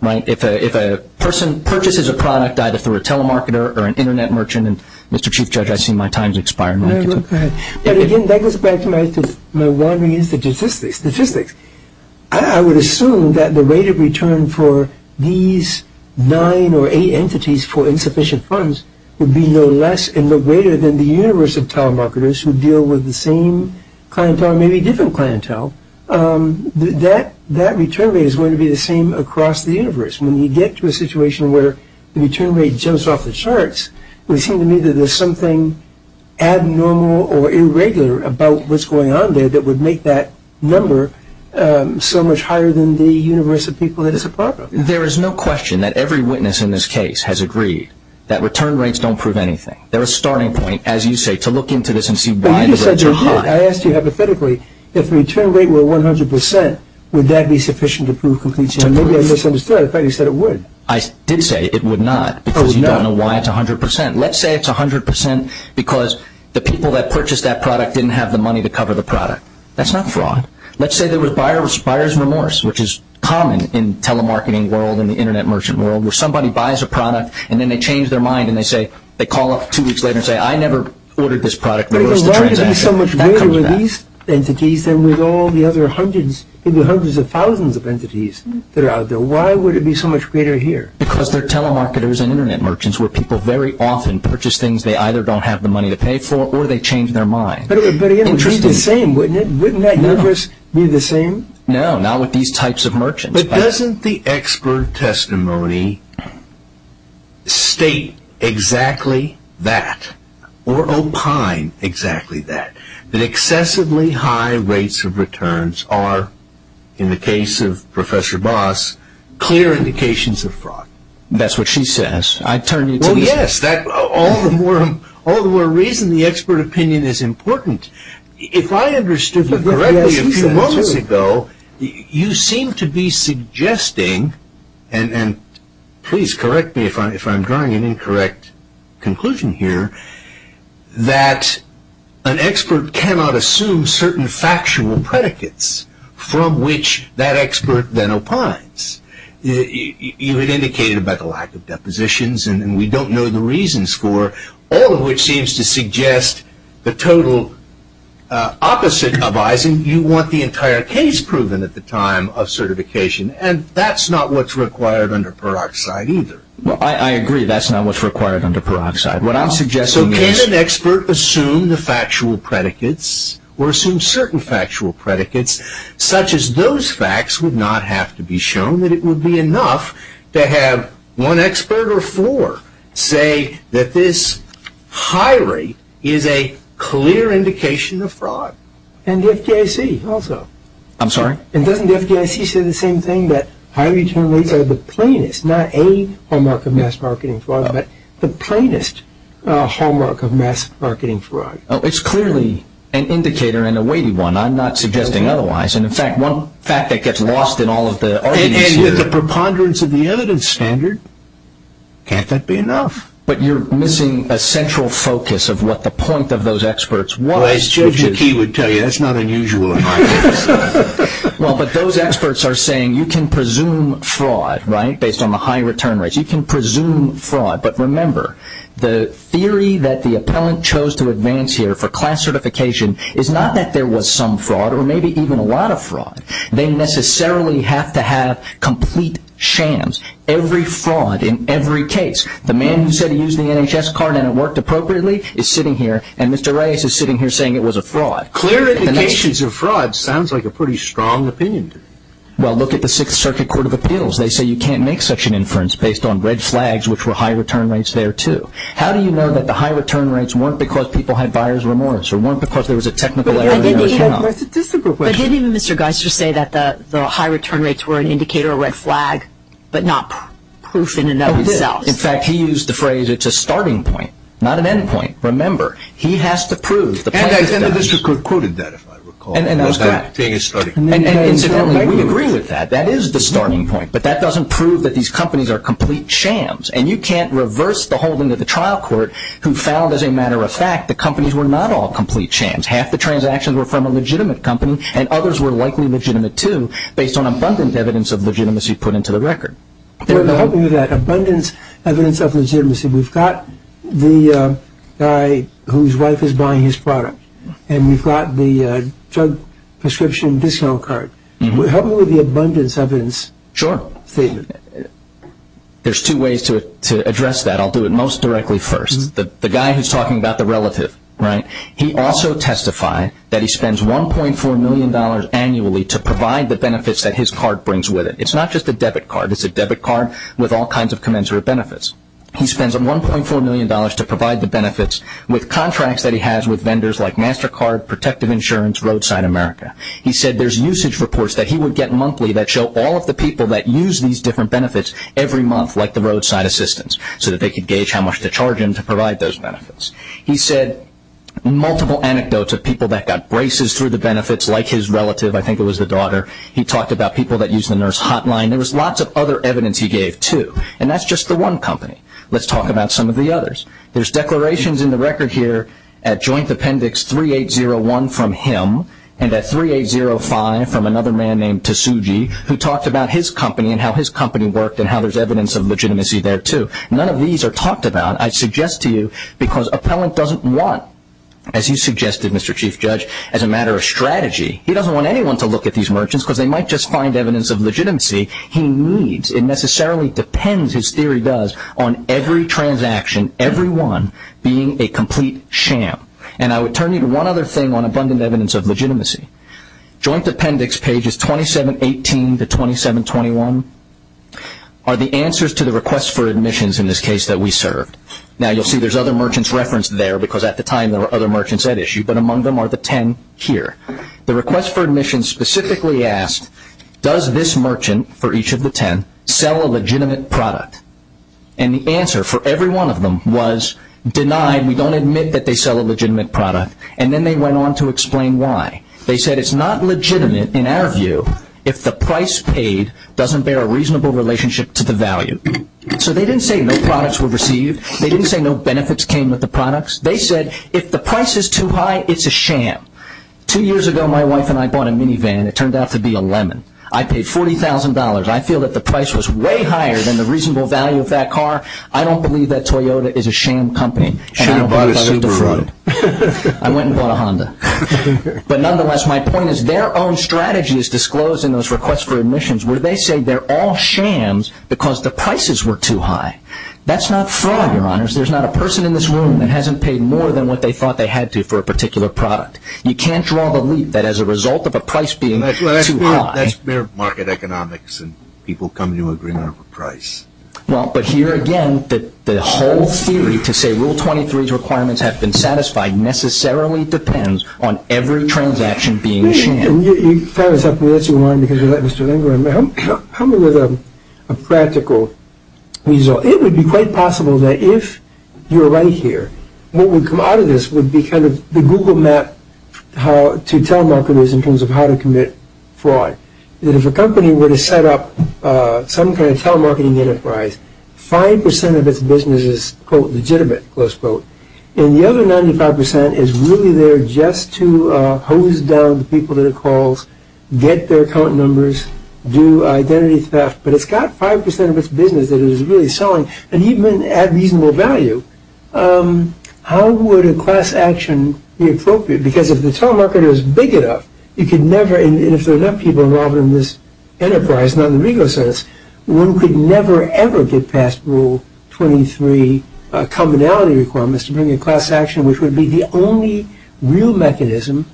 Right? If a person purchases a product either through a telemarketer or an Internet merchant, and Mr. Chief Judge, I see my time has expired. Go ahead. Again, that goes back to my wandering into statistics. I would assume that the rate of return for these nine or eight entities for insufficient funds would be no less and no greater than the universe of telemarketers who deal with the same clientele, maybe different clientele. That return rate is going to be the same across the universe. When you get to a situation where the return rate jumps off the charts, we seem to me that there's something abnormal or irregular about what's going on there that would make that number so much higher than the universe of people that it's a part of. There is no question that every witness in this case has agreed that return rates don't prove anything. They're a starting point, as you say, to look into this and see why the rates are high. I asked you hypothetically if the return rate were 100 percent, would that be sufficient to prove completion? Maybe I misunderstood that. In fact, you said it would. I did say it would not because you don't know why it's 100 percent. Let's say it's 100 percent because the people that purchased that product didn't have the money to cover the product. That's not fraud. Let's say there was buyer's remorse, which is common in telemarketing world and the Internet merchant world where somebody buys a product, and then they change their mind, and they call up two weeks later and say, I never ordered this product. Why would it be so much greater with these entities than with all the other hundreds, maybe hundreds of thousands of entities that are out there? Why would it be so much greater here? Because they're telemarketers and Internet merchants where people very often purchase things they either don't have the money to pay for or they change their mind. But it would be the same, wouldn't it? Wouldn't that universe be the same? No, not with these types of merchants. But doesn't the expert testimony state exactly that or opine exactly that, that excessively high rates of returns are, in the case of Professor Boss, clear indications of fraud? That's what she says. I turn it to you. Well, yes. All the more reason the expert opinion is important. If I understood you correctly a few moments ago, you seem to be suggesting, and please correct me if I'm drawing an incorrect conclusion here, that an expert cannot assume certain factual predicates from which that expert then opines. You had indicated about the lack of depositions, and we don't know the reasons for all of which seems to suggest the total opposite of Eisen. You want the entire case proven at the time of certification, and that's not what's required under peroxide either. Well, I agree that's not what's required under peroxide. What I'm suggesting is… So can an expert assume the factual predicates or assume certain factual predicates, such as those facts would not have to be shown, that it would be enough to have one expert or four say that this high rate is a clear indication of fraud? And the FDIC also. I'm sorry? And doesn't the FDIC say the same thing, that high return rates are the plainest, not a hallmark of mass marketing fraud, but the plainest hallmark of mass marketing fraud? It's clearly an indicator and a weighty one. I'm not suggesting otherwise. And in fact, one fact that gets lost in all of the arguments here… And with the preponderance of the evidence standard, can't that be enough? But you're missing a central focus of what the point of those experts was. If Yuki would tell you, that's not unusual in my case. Well, but those experts are saying you can presume fraud, right, based on the high return rates. You can presume fraud. But remember, the theory that the appellant chose to advance here for class certification is not that there was some fraud or maybe even a lot of fraud. They necessarily have to have complete shams. Every fraud in every case. The man who said he used the NHS card and it worked appropriately is sitting here, and Mr. Reyes is sitting here saying it was a fraud. Clear indications of fraud sounds like a pretty strong opinion to me. Well, look at the Sixth Circuit Court of Appeals. They say you can't make such an inference based on red flags, which were high return rates there too. How do you know that the high return rates weren't because people had buyer's remorse or weren't because there was a technical error in the original? But I didn't even have my statistical question. But didn't even Mr. Geisler say that the high return rates were an indicator, a red flag, but not proof in and of itself? In fact, he used the phrase, it's a starting point, not an end point. Remember, he has to prove the plaintiff does. And the district court quoted that, if I recall. And incidentally, we agree with that. That is the starting point. But that doesn't prove that these companies are complete shams. And you can't reverse the holding of the trial court who found, as a matter of fact, the companies were not all complete shams. Half the transactions were from a legitimate company, and others were likely legitimate too based on abundant evidence of legitimacy put into the record. Help me with that. Abundance evidence of legitimacy. We've got the guy whose wife is buying his product, and we've got the drug prescription discount card. Help me with the abundance evidence statement. Sure. There's two ways to address that. I'll do it most directly first. The guy who's talking about the relative, right, he also testified that he spends $1.4 million annually to provide the benefits that his card brings with it. It's not just a debit card. It's a debit card with all kinds of commensurate benefits. He spends $1.4 million to provide the benefits with contracts that he has with vendors like MasterCard, Protective Insurance, Roadside America. He said there's usage reports that he would get monthly that show all of the people that use these different benefits every month, like the roadside assistants, so that they could gauge how much to charge him to provide those benefits. He said multiple anecdotes of people that got braces through the benefits, like his relative. I think it was the daughter. He talked about people that used the nurse hotline. And there was lots of other evidence he gave, too. And that's just the one company. Let's talk about some of the others. There's declarations in the record here at Joint Appendix 3801 from him and at 3805 from another man named Tasuji, who talked about his company and how his company worked and how there's evidence of legitimacy there, too. None of these are talked about, I suggest to you, because appellant doesn't want, as you suggested, Mr. Chief Judge, as a matter of strategy, he doesn't want anyone to look at these merchants because they might just find evidence of legitimacy he needs. It necessarily depends, his theory does, on every transaction, every one, being a complete sham. And I would turn you to one other thing on abundant evidence of legitimacy. Joint Appendix pages 2718 to 2721 are the answers to the request for admissions in this case that we served. Now, you'll see there's other merchants referenced there because at the time there were other merchants at issue, but among them are the ten here. The request for admission specifically asked, does this merchant, for each of the ten, sell a legitimate product? And the answer for every one of them was, denied, we don't admit that they sell a legitimate product. And then they went on to explain why. They said it's not legitimate, in our view, if the price paid doesn't bear a reasonable relationship to the value. So they didn't say no products were received. They didn't say no benefits came with the products. They said if the price is too high, it's a sham. Two years ago, my wife and I bought a minivan. It turned out to be a lemon. I paid $40,000. I feel that the price was way higher than the reasonable value of that car. I don't believe that Toyota is a sham company. And I don't believe I was defrauded. I went and bought a Honda. But nonetheless, my point is their own strategy is disclosed in those requests for admissions, where they say they're all shams because the prices were too high. That's not fraud, Your Honors. There's not a person in this room that hasn't paid more than what they thought they had to for a particular product. You can't draw the lead that as a result of a price being too high. That's mere market economics, and people come to an agreement over price. Well, but here again, the whole theory to say Rule 23's requirements have been satisfied necessarily depends on every transaction being a sham. And you found something else you wanted because you let Mr. Lindgren. Help me with a practical result. It would be quite possible that if you're right here, what would come out of this would be kind of the Google map to telemarketers in terms of how to commit fraud. That if a company were to set up some kind of telemarketing enterprise, 5% of its business is, quote, legitimate, close quote. And the other 95% is really there just to hose down the people that it calls, get their account numbers, do identity theft. But it's got 5% of its business that it is really selling, and even at reasonable value. How would a class action be appropriate? Because if the telemarketer is big enough, you could never, and if there are enough people involved in this enterprise, not in the legal sense, one could never, ever get past Rule 23 commonality requirements to bring in class action, which would be the only real mechanism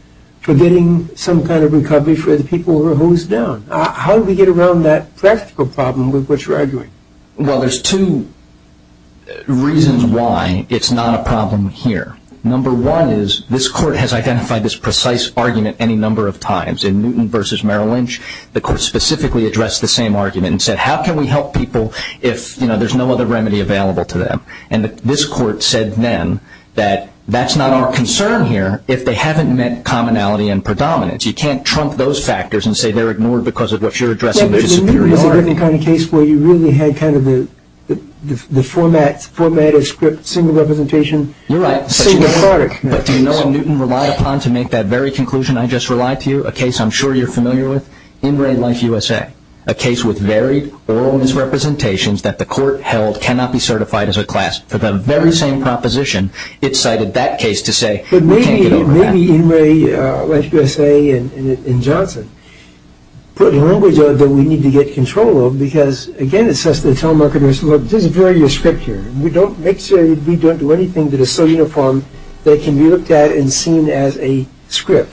for getting some kind of recovery for the people who are hosed down. How do we get around that practical problem with which you're arguing? Well, there's two reasons why it's not a problem here. Number one is this Court has identified this precise argument any number of times. In Newton v. Merrill Lynch, the Court specifically addressed the same argument and said how can we help people if there's no other remedy available to them. And this Court said then that that's not our concern here if they haven't met commonality and predominance. You can't trump those factors and say they're ignored because of what you're addressing. But in Newton v. Merrill Lynch, there was a case where you really had kind of the format as single representation, single product. You're right, but do you know what Newton relied upon to make that very conclusion I just relied to you? A case I'm sure you're familiar with, In Re. Life USA, a case with varied oral misrepresentations that the Court held cannot be certified as a class. For the very same proposition, it cited that case to say we can't get over that. Maybe In Re. Life USA and Johnson put language on it that we need to get control of because, again, it says to the telemarketers, look, there's a very strict here. Make sure we don't do anything that is so uniform that it can be looked at and seen as a script.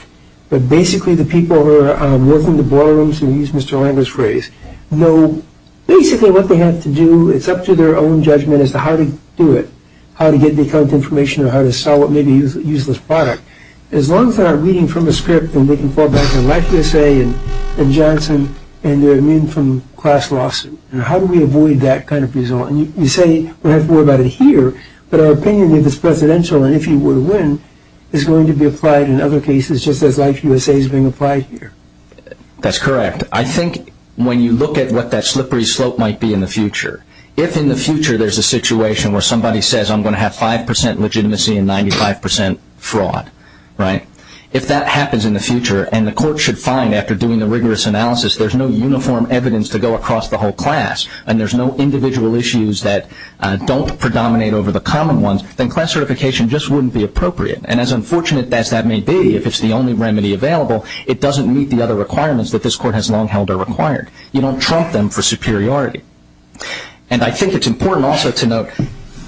But basically the people who are working in the boardrooms who use Mr. Langer's phrase know basically what they have to do. It's up to their own judgment as to how to do it, how to get the correct information or how to sell what may be a useless product. As long as they're not reading from a script, then they can fall back on Life USA and Johnson and their immune from class lawsuit. How do we avoid that kind of result? You say we have to worry about it here, but our opinion, if it's presidential and if you were to win, is going to be applied in other cases just as Life USA is being applied here. That's correct. If in the future there's a situation where somebody says I'm going to have 5% legitimacy and 95% fraud, if that happens in the future and the court should find after doing the rigorous analysis there's no uniform evidence to go across the whole class and there's no individual issues that don't predominate over the common ones, then class certification just wouldn't be appropriate. And as unfortunate as that may be, if it's the only remedy available, it doesn't meet the other requirements that this court has long held are required. You don't trump them for superiority. And I think it's important also to note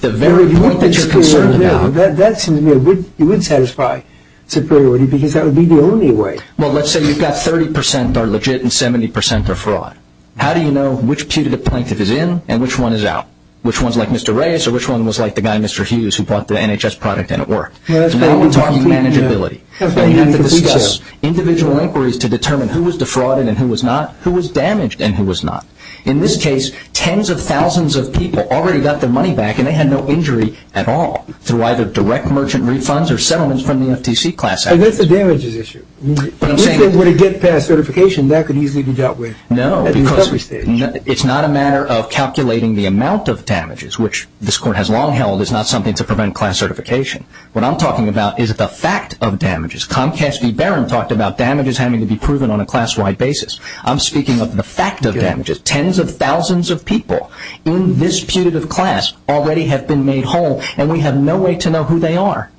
the very point that you're concerned about. You would satisfy superiority because that would be the only way. Well, let's say you've got 30% are legit and 70% are fraud. How do you know which pew to the plaintiff is in and which one is out? Which one's like Mr. Reyes or which one was like the guy Mr. Hughes who bought the NHS product and it worked? Now we're talking manageability. You have to discuss individual inquiries to determine who was defrauded and who was not, who was damaged and who was not. In this case, tens of thousands of people already got their money back and they had no injury at all through either direct merchant refunds or settlements from the FTC class act. But that's the damages issue. When it gets past certification, that could easily be dealt with. No, because it's not a matter of calculating the amount of damages, which this court has long held is not something to prevent class certification. What I'm talking about is the fact of damages. Comcast v. Barron talked about damages having to be proven on a class-wide basis. I'm speaking of the fact of damages. Tens of thousands of people in this putative class already have been made whole and we have no way to know who they are.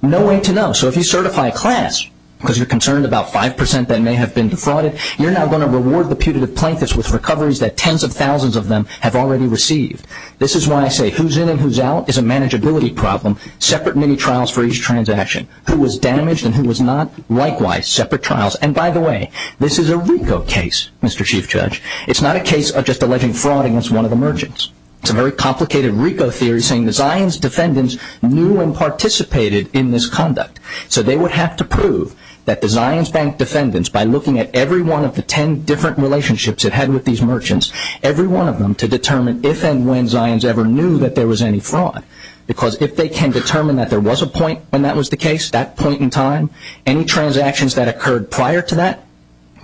No way to know. So if you certify a class because you're concerned about 5% that may have been defrauded, you're now going to reward the pew to the plaintiff with recoveries that tens of thousands of them have already received. This is why I say who's in and who's out is a manageability problem. Separate mini-trials for each transaction. Who was damaged and who was not, likewise, separate trials. And by the way, this is a RICO case, Mr. Chief Judge. It's not a case of just alleging fraud against one of the merchants. It's a very complicated RICO theory saying the Zions defendants knew and participated in this conduct. So they would have to prove that the Zions bank defendants, by looking at every one of the ten different relationships it had with these merchants, every one of them to determine if and when Zions ever knew that there was any fraud. Because if they can determine that there was a point when that was the case, that point in time, any transactions that occurred prior to that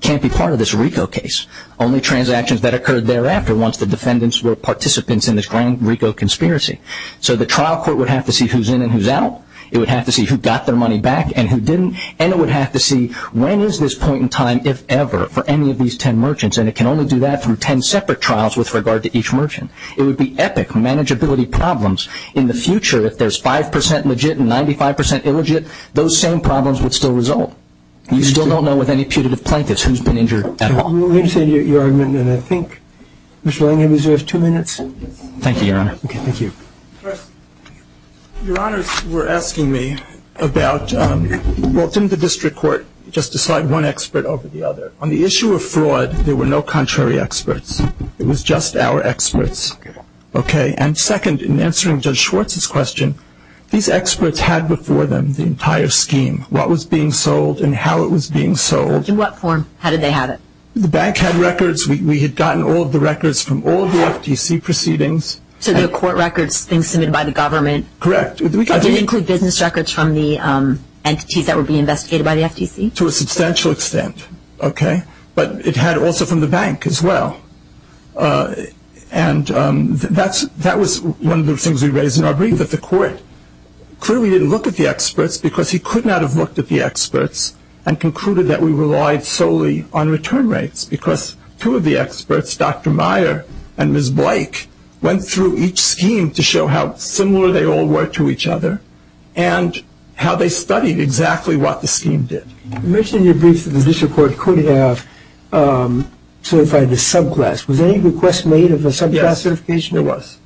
can't be part of this RICO case. Only transactions that occurred thereafter once the defendants were participants in this grand RICO conspiracy. So the trial court would have to see who's in and who's out. It would have to see who got their money back and who didn't. And it would have to see when is this point in time, if ever, for any of these ten merchants. And it can only do that through ten separate trials with regard to each merchant. It would be epic manageability problems. In the future, if there's 5% legit and 95% illegit, those same problems would still result. You still don't know with any putative plaintiffs who's been injured at all. Let me say your argument and I think, Mr. Langham, you have two minutes. Thank you, Your Honor. Okay, thank you. Your Honors were asking me about, well, didn't the district court just decide one expert over the other? On the issue of fraud, there were no contrary experts. It was just our experts. Okay. And second, in answering Judge Schwartz's question, these experts had before them the entire scheme, what was being sold and how it was being sold. In what form? How did they have it? The bank had records. We had gotten all of the records from all of the FTC proceedings. So the court records, things submitted by the government. Correct. Did it include business records from the entities that were being investigated by the FTC? To a substantial extent. Okay. But it had also from the bank as well. And that was one of the things we raised in our brief, that the court clearly didn't look at the experts because he could not have looked at the experts and concluded that we relied solely on return rates because two of the experts, Dr. Meyer and Ms. Blake, went through each scheme to show how similar they all were to each other and how they studied exactly what the scheme did. You mentioned in your brief that the district court could have certified the subclass. Was any request made of a subclass certification? Yes,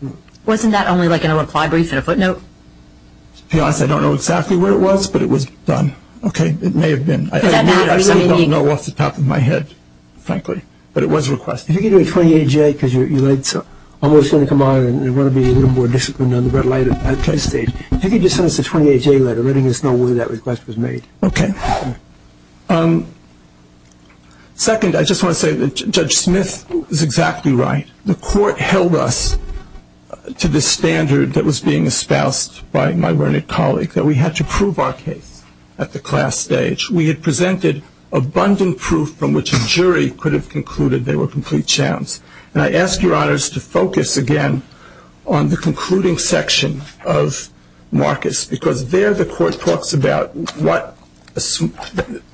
there was. Wasn't that only like an apply brief and a footnote? To be honest, I don't know exactly where it was, but it was done. It may have been. Does that matter? I really don't know off the top of my head, frankly. But it was a request. If you could do a 28-J because your lights are almost going to come on and you want to be a little more disciplined on the red light at play stage, If you could just send us a 28-J letter letting us know whether that request was made. Okay. Second, I just want to say that Judge Smith is exactly right. The court held us to the standard that was being espoused by my learned colleague, that we had to prove our case at the class stage. We had presented abundant proof from which a jury could have concluded they were complete champs. And I ask your honors to focus again on the concluding section of Marcus, because there the court talks about what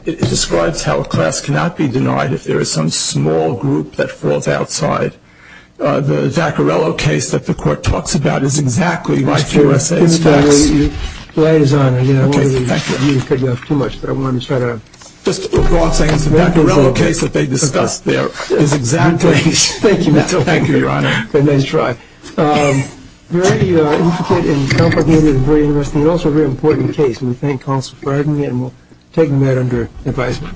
it describes how a class cannot be denied if there is some small group that falls outside. The Zaccarello case that the court talks about is exactly like USA's facts. The light is on. I don't want you to cut me off too much, but I wanted to start out. Just a broad sentence. The Zaccarello case that they discussed there is exactly like USA's facts. Thank you, Your Honor. A nice try. Very intricate and complicated and very interesting and also a very important case. We thank counsel for having me and we'll take them at under advisement. Thank you.